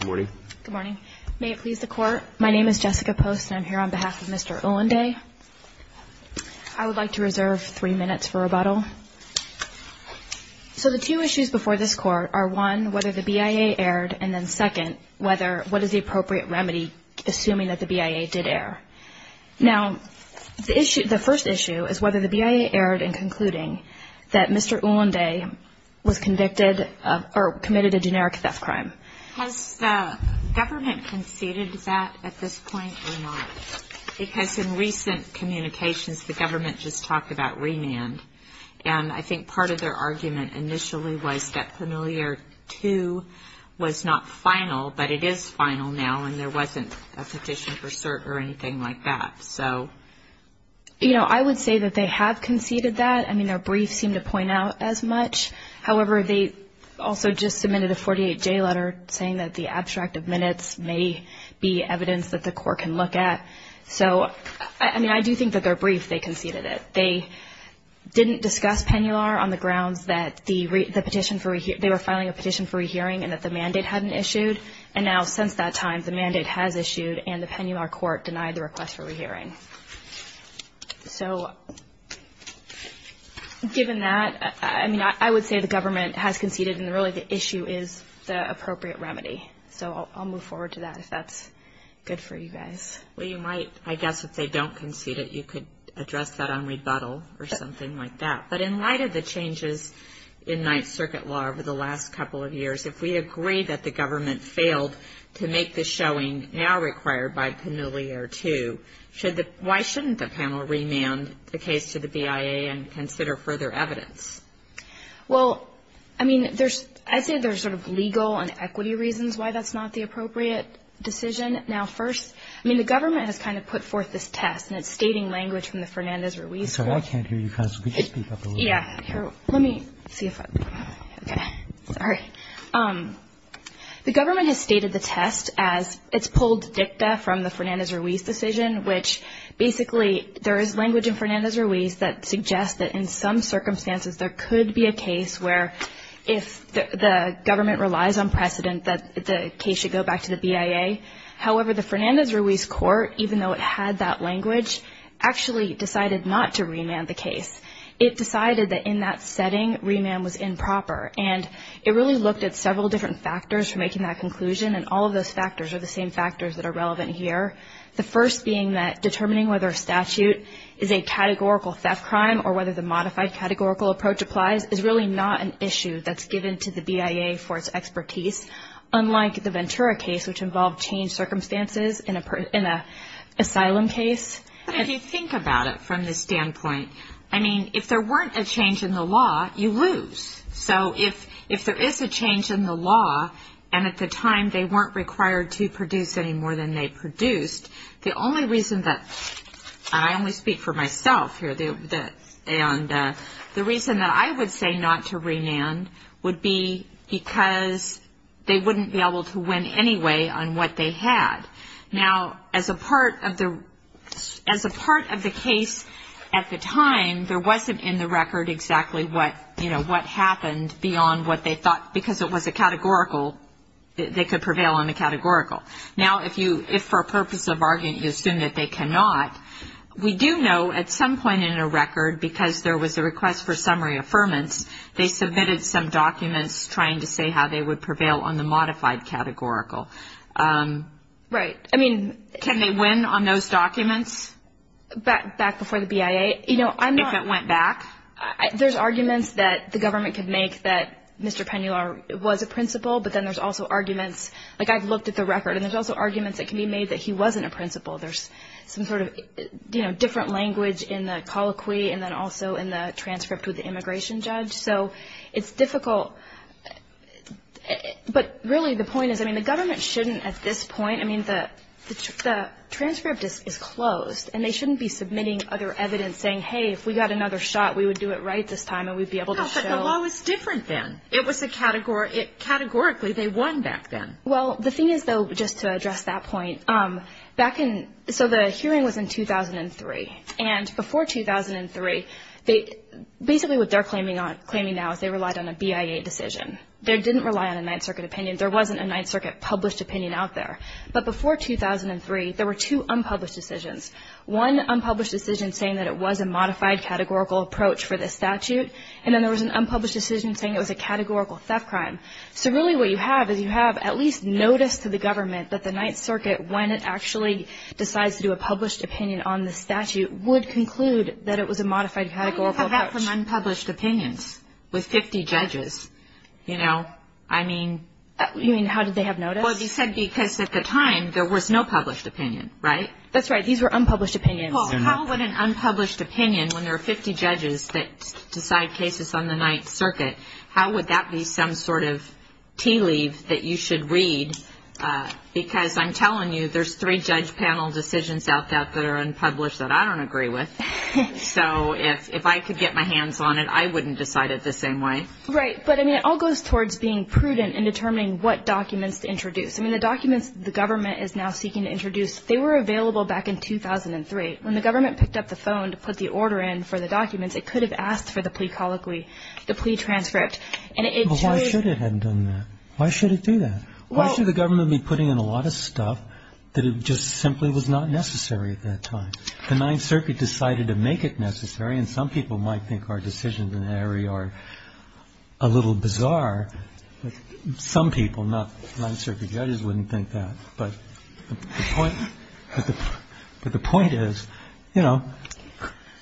Good morning. May it please the Court, my name is Jessica Post and I'm here on behalf of Mr. Ulanday. I would like to reserve three minutes for rebuttal. So the two issues before this Court are, one, whether the BIA erred, and then, second, what is the appropriate remedy, assuming that the BIA did err? Now, the first issue is whether the BIA erred in concluding that Mr. Ulanday was convicted or committed a generic theft crime. Has the government conceded that at this point or not? Because in recent communications, the government just talked about remand. And I think part of their argument initially was that Familiar II was not final, but it is final now, and there wasn't a petition for cert or anything like that. I would say that they have conceded that. I mean, their briefs seem to point out as much. However, they also just submitted a 48-J letter saying that the abstract of minutes may be evidence that the Court can look at. So, I mean, I do think that their brief, they conceded it. They didn't discuss Pennular on the grounds that they were filing a petition for rehearing and that the mandate hadn't issued. And now, since that time, the mandate has issued and the Pennular Court denied the request for rehearing. So, given that, I mean, I would say the government has conceded and really the issue is the appropriate remedy. So I'll move forward to that if that's good for you guys. Well, you might, I guess if they don't concede it, you could address that on rebuttal or something like that. But in light of the changes in Ninth Circuit law over the last couple of years, if we agree that the government failed to make the showing now required by Pennular II, why shouldn't the panel remand the case to the BIA and consider further evidence? Well, I mean, there's, I'd say there's sort of legal and equity reasons why that's not the appropriate decision. Now, first, I mean, the government has kind of put forth this test and it's stating language from the Fernandez-Ruiz trial. I can't hear you. Could you speak up a little bit? Yeah. Let me see if I, okay. Sorry. The government has stated the test as it's pulled dicta from the Fernandez-Ruiz decision, which basically there is language in Fernandez-Ruiz that suggests that in some circumstances there could be a case where if the government relies on precedent that the case should go back to the BIA. However, the Fernandez-Ruiz court, even though it had that language, actually decided not to remand the case. It decided that in that setting remand was improper. And it really looked at several different factors for making that conclusion, and all of those factors are the same factors that are relevant here. The first being that determining whether a statute is a categorical theft crime or whether the modified categorical approach applies is really not an issue that's given to the BIA for its expertise, unlike the Ventura case, which involved changed circumstances in an asylum case. But if you think about it from this standpoint, I mean, if there weren't a change in the law, you lose. So if there is a change in the law, and at the time they weren't required to produce any more than they produced, the only reason that, and I only speak for myself here, the reason that I would say not to remand would be because they wouldn't be able to win anyway on what they had. Now, as a part of the case at the time, there wasn't in the record exactly what, you know, what happened beyond what they thought, because it was a categorical, they could prevail on the categorical. Now, if for a purpose of argument you assume that they cannot, we do know at some point in a record, because there was a request for summary affirmance, they submitted some documents trying to say how they would prevail on the modified categorical. Right. I mean, can they win on those documents? Back before the BIA, you know, I'm not. If it went back? There's arguments that the government could make that Mr. Penular was a principal, but then there's also arguments, like I've looked at the record, and there's also arguments that can be made that he wasn't a principal. There's some sort of, you know, different language in the colloquy, and then also in the transcript with the immigration judge. So it's difficult, but really the point is, I mean, the government shouldn't at this point, I mean, the transcript is closed, and they shouldn't be submitting other evidence saying, hey, if we got another shot, we would do it right this time, and we'd be able to show. No, but the law was different then. It was a categorical, they won back then. Well, the thing is, though, just to address that point, back in, so the hearing was in 2003, and before 2003, basically what they're claiming now is they relied on a BIA decision. They didn't rely on a Ninth Circuit opinion. There wasn't a Ninth Circuit published opinion out there. But before 2003, there were two unpublished decisions, one unpublished decision saying that it was a modified categorical approach for this statute, and then there was an unpublished decision saying it was a categorical theft crime. So really what you have is you have at least notice to the government that the Ninth Circuit, when it actually decides to do a published opinion on the statute, would conclude that it was a modified categorical approach. What do you have from unpublished opinions with 50 judges? You know, I mean. You mean how did they have notice? Well, they said because at the time there was no published opinion, right? That's right. These were unpublished opinions. Well, how would an unpublished opinion, when there are 50 judges that decide cases on the Ninth Circuit, how would that be some sort of tea leave that you should read? Because I'm telling you there's three judge panel decisions out there that are unpublished that I don't agree with. So if I could get my hands on it, I wouldn't decide it the same way. Right. But, I mean, it all goes towards being prudent in determining what documents to introduce. I mean, the documents the government is now seeking to introduce, they were available back in 2003. When the government picked up the phone to put the order in for the documents, it could have asked for the plea colloquy, the plea transcript. Well, why should it have done that? Why should it do that? Why should the government be putting in a lot of stuff that just simply was not necessary at that time? The Ninth Circuit decided to make it necessary, and some people might think our decisions in that area are a little bizarre. Some people, not the Ninth Circuit judges, wouldn't think that. But the point is, you know,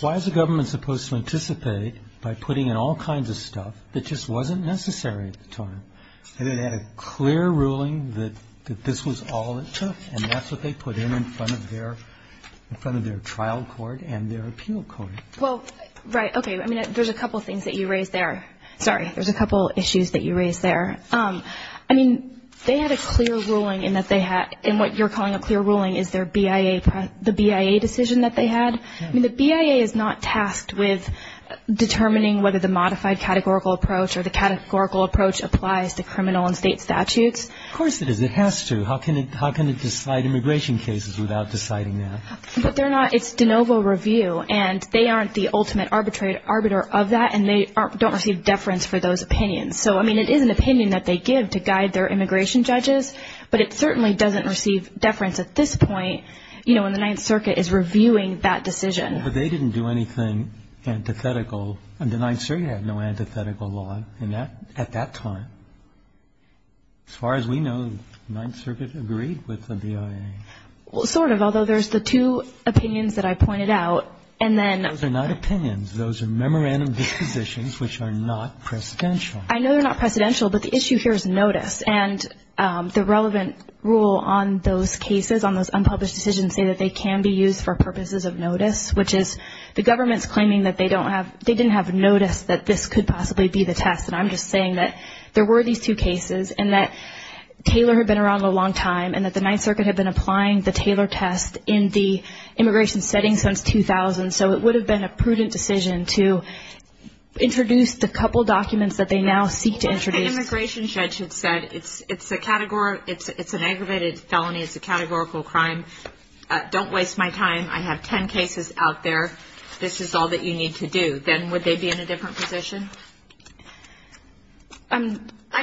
why is the government supposed to anticipate by putting in all kinds of stuff that just wasn't necessary at the time? And it had a clear ruling that this was all it took, and that's what they put in in front of their trial court and their appeal court. Well, right. Okay. I mean, there's a couple things that you raised there. Sorry. There's a couple issues that you raised there. I mean, they had a clear ruling in that they had, in what you're calling a clear ruling, is their BIA, the BIA decision that they had. I mean, the BIA is not tasked with determining whether the modified categorical approach or the categorical approach applies to criminal and state statutes. Of course it is. It has to. How can it decide immigration cases without deciding that? But they're not. It's de novo review, and they aren't the ultimate arbiter of that, and they don't receive deference for those opinions. So, I mean, it is an opinion that they give to guide their immigration judges, but it certainly doesn't receive deference at this point, you know, when the Ninth Circuit is reviewing that decision. But they didn't do anything antithetical. The Ninth Circuit had no antithetical law in that at that time. As far as we know, the Ninth Circuit agreed with the BIA. Well, sort of, although there's the two opinions that I pointed out, and then. Those are not opinions. Those are memorandum dispositions which are not precedential. I know they're not precedential, but the issue here is notice. And the relevant rule on those cases, on those unpublished decisions, say that they can be used for purposes of notice, which is the government's claiming that they didn't have notice that this could possibly be the test. And I'm just saying that there were these two cases, and that Taylor had been around a long time, and that the Ninth Circuit had been applying the Taylor test in the immigration setting since 2000. So it would have been a prudent decision to introduce the couple documents that they now seek to introduce. The immigration judge had said it's an aggravated felony. It's a categorical crime. Don't waste my time. I have ten cases out there. This is all that you need to do. Then would they be in a different position? I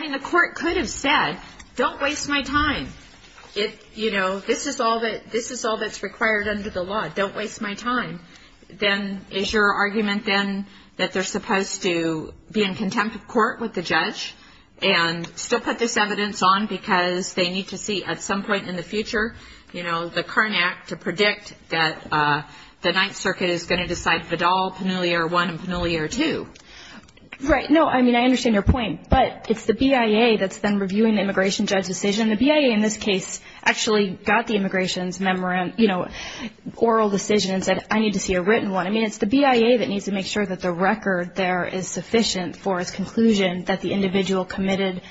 mean, the court could have said, don't waste my time. You know, this is all that's required under the law. Don't waste my time. Then is your argument, then, that they're supposed to be in contempt of court with the judge and still put this evidence on because they need to see at some point in the future, you know, the current act to predict that the Ninth Circuit is going to decide Vidal, Penelier I and Penelier II? Right. No, I mean, I understand your point. But it's the BIA that's then reviewing the immigration judge's decision. The BIA in this case actually got the immigration's oral decision and said, I need to see a written one. I mean, it's the BIA that needs to make sure that the record there is sufficient for its conclusion that the individual committed,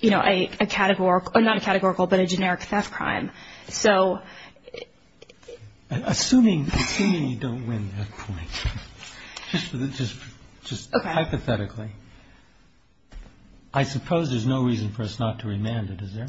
you know, a categorical or not a categorical but a generic theft crime. Assuming you don't win that point, just hypothetically, I suppose there's no reason for us not to remand it, is there?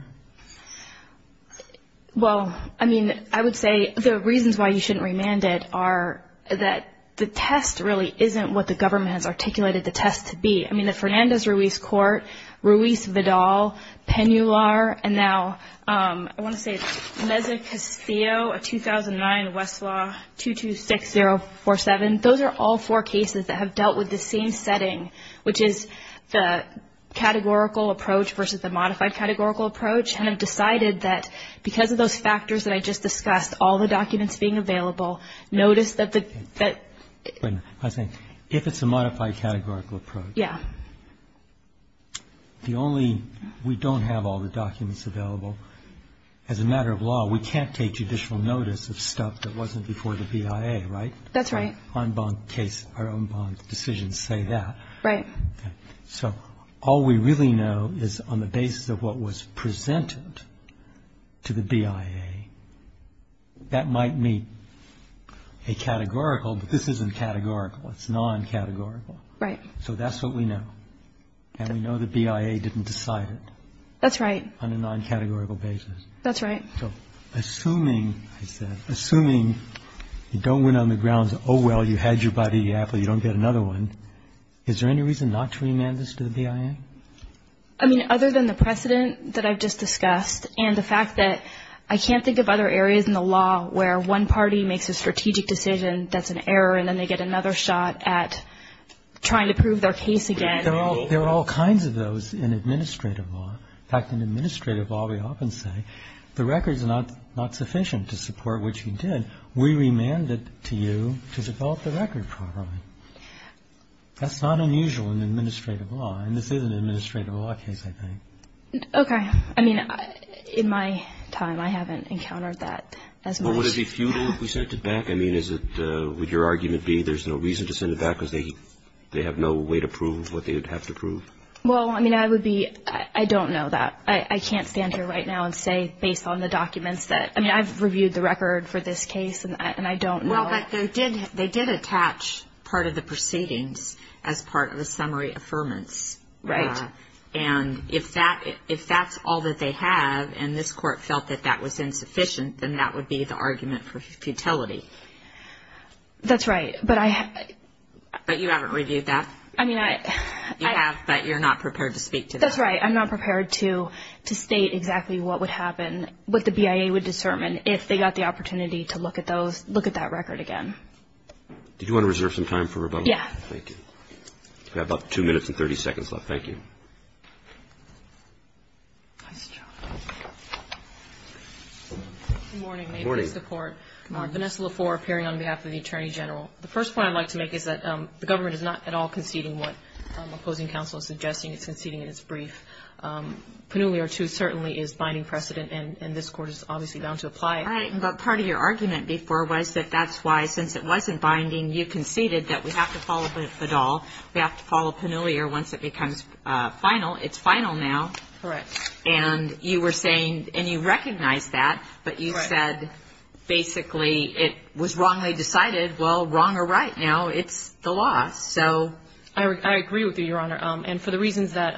Well, I mean, I would say the reasons why you shouldn't remand it are that the test really isn't what the government has articulated the test to be. I mean, the Fernandez-Ruiz court, Ruiz-Vidal, Penular, and now I want to say it's Meza Castillo, a 2009 Westlaw 226047. And those are all four cases that have dealt with the same setting, which is the categorical approach versus the modified categorical approach, and have decided that because of those factors that I just discussed, all the documents being available, notice that the... Wait a minute. If it's a modified categorical approach. Yeah. The only, we don't have all the documents available. As a matter of law, we can't take judicial notice of stuff that wasn't before the BIA, right? That's right. Our own bond decisions say that. Right. So all we really know is on the basis of what was presented to the BIA, that might meet a categorical, but this isn't categorical. It's non-categorical. Right. So that's what we know. And we know the BIA didn't decide it. That's right. On a non-categorical basis. That's right. So assuming, I said, assuming you don't win on the grounds, oh, well, you had your body, yeah, but you don't get another one, is there any reason not to remand this to the BIA? I mean, other than the precedent that I've just discussed and the fact that I can't think of other areas in the law where one party makes a strategic decision that's an error and then they get another shot at trying to prove their case again. There are all kinds of those in administrative law. In fact, in administrative law, we often say the record's not sufficient to support what you did. We remanded it to you to develop the record properly. That's not unusual in administrative law, and this is an administrative law case, I think. Okay. I mean, in my time, I haven't encountered that as much. But would it be futile if we sent it back? I mean, is it, would your argument be there's no reason to send it back because they have no way to prove what they would have to prove? Well, I mean, I would be, I don't know that. I can't stand here right now and say based on the documents that, I mean, I've reviewed the record for this case, and I don't know. Well, but they did attach part of the proceedings as part of the summary affirmance. Right. And if that's all that they have and this court felt that that was insufficient, then that would be the argument for futility. That's right, but I have. But you haven't reviewed that? I mean, I. I have, but you're not prepared to speak to that. That's right. I'm not prepared to state exactly what would happen, what the BIA would discern, and if they got the opportunity to look at those, look at that record again. Did you want to reserve some time for rebuttal? Yeah. Thank you. We have about two minutes and 30 seconds left. Thank you. Good morning. May it please the Court. Vanessa Lafour appearing on behalf of the Attorney General. The first point I'd like to make is that the government is not at all conceding what opposing counsel is suggesting. It's conceding in its brief. Pannulia, too, certainly is binding precedent, and this Court is obviously bound to apply it. Right. But part of your argument before was that that's why, since it wasn't binding, you conceded that we have to follow Bedall. We have to follow Pannulia once it becomes final. It's final now. Correct. And you were saying, and you recognized that, but you said basically it was wrongly decided. Well, wrong or right now, it's the law, so. I agree with you, Your Honor. And for the reasons that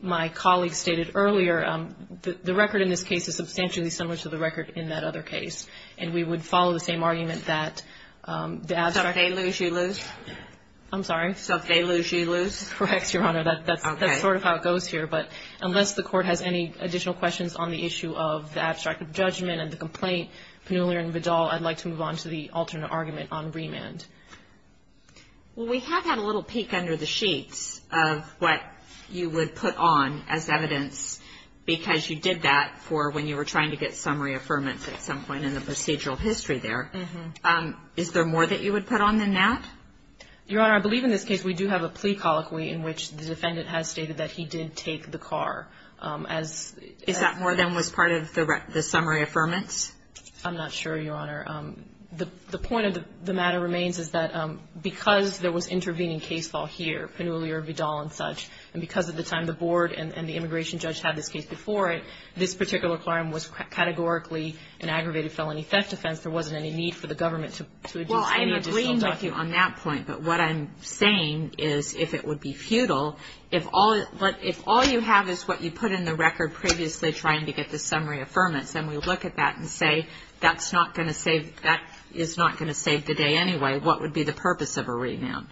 my colleague stated earlier, the record in this case is substantially similar to the record in that other case, and we would follow the same argument that the abstract. So if they lose, she lose? I'm sorry? So if they lose, she lose? Correct, Your Honor. Okay. That's sort of how it goes here. But unless the Court has any additional questions on the issue of the abstract judgment and the complaint, Pannulia and Bedall, I'd like to move on to the alternate argument on remand. Well, we have had a little peek under the sheets of what you would put on as evidence, because you did that for when you were trying to get summary affirmance at some point in the procedural history there. Is there more that you would put on than that? Your Honor, I believe in this case we do have a plea colloquy in which the defendant has stated that he did take the car. Is that more than was part of the summary affirmance? I'm not sure, Your Honor. The point of the matter remains is that because there was intervening case fall here, Pannulia, Bedall, and such, and because at the time the board and the immigration judge had this case before it, this particular claim was categorically an aggravated felony theft offense. There wasn't any need for the government to issue any additional documents. Well, I'm agreeing with you on that point, but what I'm saying is if it would be futile, if all you have is what you put in the record previously trying to get the summary affirmance, and we look at that and say that is not going to save the day anyway, what would be the purpose of a remand?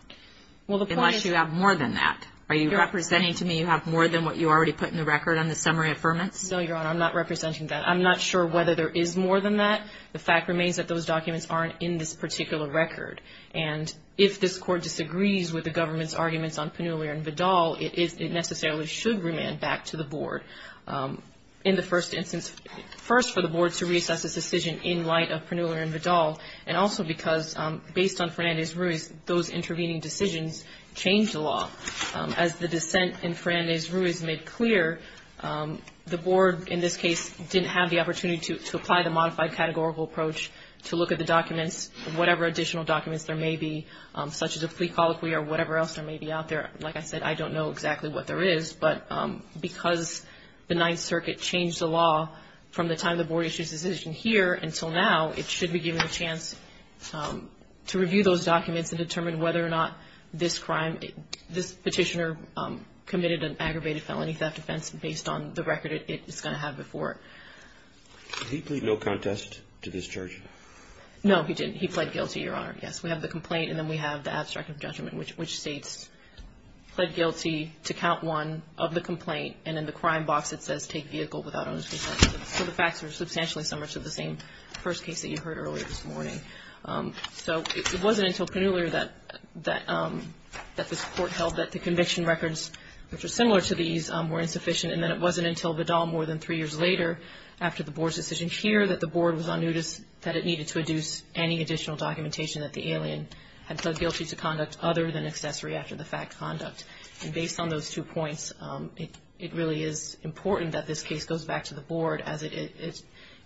Unless you have more than that. Are you representing to me you have more than what you already put in the record on the summary affirmance? No, Your Honor. I'm not representing that. I'm not sure whether there is more than that. The fact remains that those documents aren't in this particular record, and if this court disagrees with the government's arguments on Pannulia and Bedall, it necessarily should remand back to the board. In the first instance, first for the board to reassess its decision in light of Pannulia and Bedall, and also because based on Fernandez-Ruiz, those intervening decisions changed the law. As the dissent in Fernandez-Ruiz made clear, the board in this case didn't have the opportunity to apply the modified categorical approach to look at the documents, whatever additional documents there may be, such as a plea colloquy or whatever else there may be out there. Like I said, I don't know exactly what there is, but because the Ninth Circuit changed the law from the time the board issued its decision here until now, it should be given a chance to review those documents and determine whether or not this petitioner committed an aggravated felony theft offense based on the record it's going to have before it. Did he plead no contest to this charge? No, he didn't. He pled guilty, Your Honor. Yes. We have the complaint, and then we have the abstract of judgment, which states pled guilty to count one of the complaint, and in the crime box it says take vehicle without onus of offense. So the facts are substantially similar to the same first case that you heard earlier this morning. So it wasn't until Pannulia that this court held that the conviction records, which are similar to these, were insufficient. And then it wasn't until Vidal more than three years later, after the board's decision here, that the board was on notice that it needed to adduce any additional documentation that the alien had pled guilty to conduct other than accessory after-the-fact conduct. And based on those two points, it really is important that this case goes back to the board, as it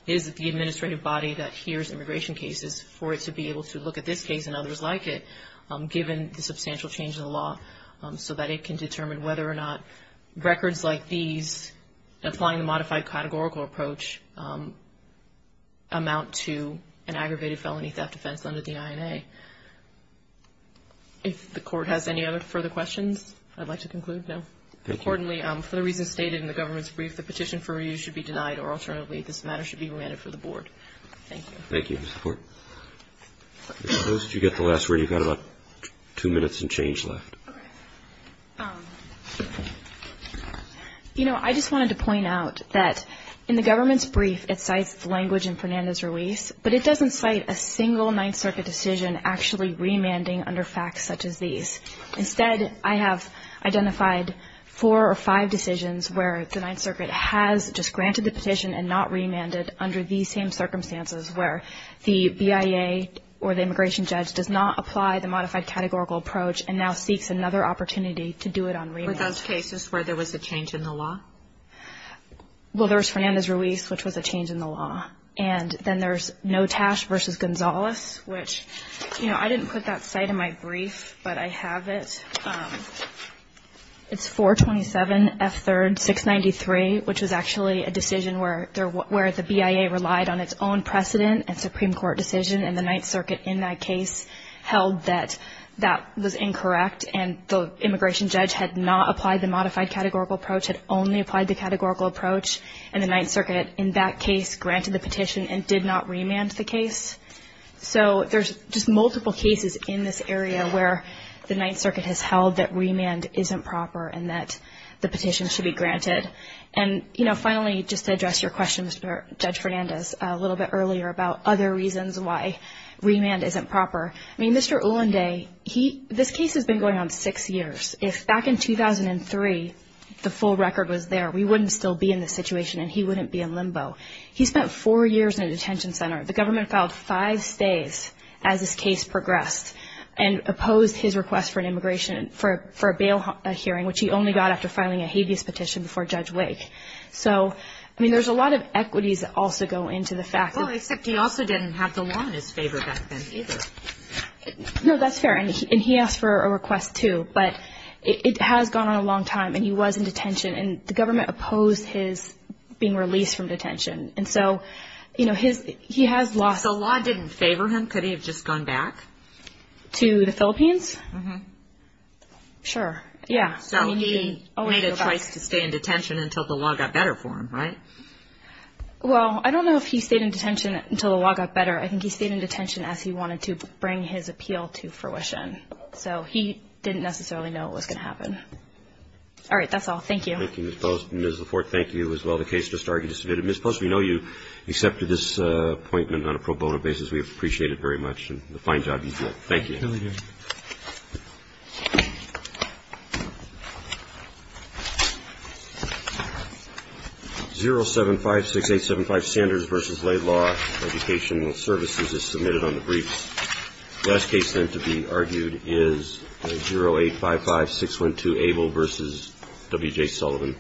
is the administrative body that hears immigration cases, for it to be able to look at this case and others like it, given the substantial change in the law, so that it can determine whether or not records like these, applying the modified categorical approach, amount to an aggravated felony theft offense under the INA. If the court has any other further questions, I'd like to conclude now. Thank you. Accordingly, for the reasons stated in the government's brief, the petition for review should be denied, or alternatively, this matter should be remanded for the board. Thank you. Thank you, Mr. Port. I suppose you get the last word. You've got about two minutes and change left. Okay. You know, I just wanted to point out that in the government's brief, it cites the language in Fernandez's release, but it doesn't cite a single Ninth Circuit decision actually remanding under facts such as these. Instead, I have identified four or five decisions where the Ninth Circuit has just granted the petition and not remanded under these same circumstances, where the BIA or the immigration judge does not apply the modified categorical approach and now seeks another opportunity to do it on remand. Were those cases where there was a change in the law? Well, there was Fernandez's release, which was a change in the law. And then there's Notash v. Gonzales, which, you know, I didn't put that cite in my brief, but I have it. It's 427F3rd693, which was actually a decision where the BIA relied on its own precedent and Supreme Court decision, and the Ninth Circuit in that case held that that was incorrect and the immigration judge had not applied the modified categorical approach, had only applied the categorical approach, and the Ninth Circuit in that case granted the petition and did not remand the case. So there's just multiple cases in this area where the Ninth Circuit has held that remand isn't proper and that the petition should be granted. And, you know, finally, just to address your question, Judge Fernandez, a little bit earlier about other reasons why remand isn't proper. I mean, Mr. Ulanday, this case has been going on six years. If back in 2003 the full record was there, we wouldn't still be in this situation and he wouldn't be in limbo. He spent four years in a detention center. The government filed five stays as this case progressed and opposed his request for an immigration for a bail hearing, which he only got after filing a habeas petition before Judge Wake. So, I mean, there's a lot of equities that also go into the fact that – Well, except he also didn't have the law in his favor back then either. No, that's fair, and he asked for a request too. But it has gone on a long time, and he was in detention, and the government opposed his being released from detention. And so, you know, he has lost – So the law didn't favor him? Could he have just gone back? To the Philippines? Mm-hmm. Sure, yeah. So he made a choice to stay in detention until the law got better for him, right? Well, I don't know if he stayed in detention until the law got better. I think he stayed in detention as he wanted to bring his appeal to fruition. So he didn't necessarily know it was going to happen. All right, that's all. Thank you. Thank you, Ms. Post. Ms. Laforte, thank you as well. The case just argued is submitted. Ms. Post, we know you accepted this appointment on a pro bono basis. We appreciate it very much, and the fine job you did. Thank you. Thank you. 0756875, Sanders v. Laidlaw, Education Services, is submitted on the briefs. The last case, then, to be argued is 0855612, Abel v. W.J. Sullivan.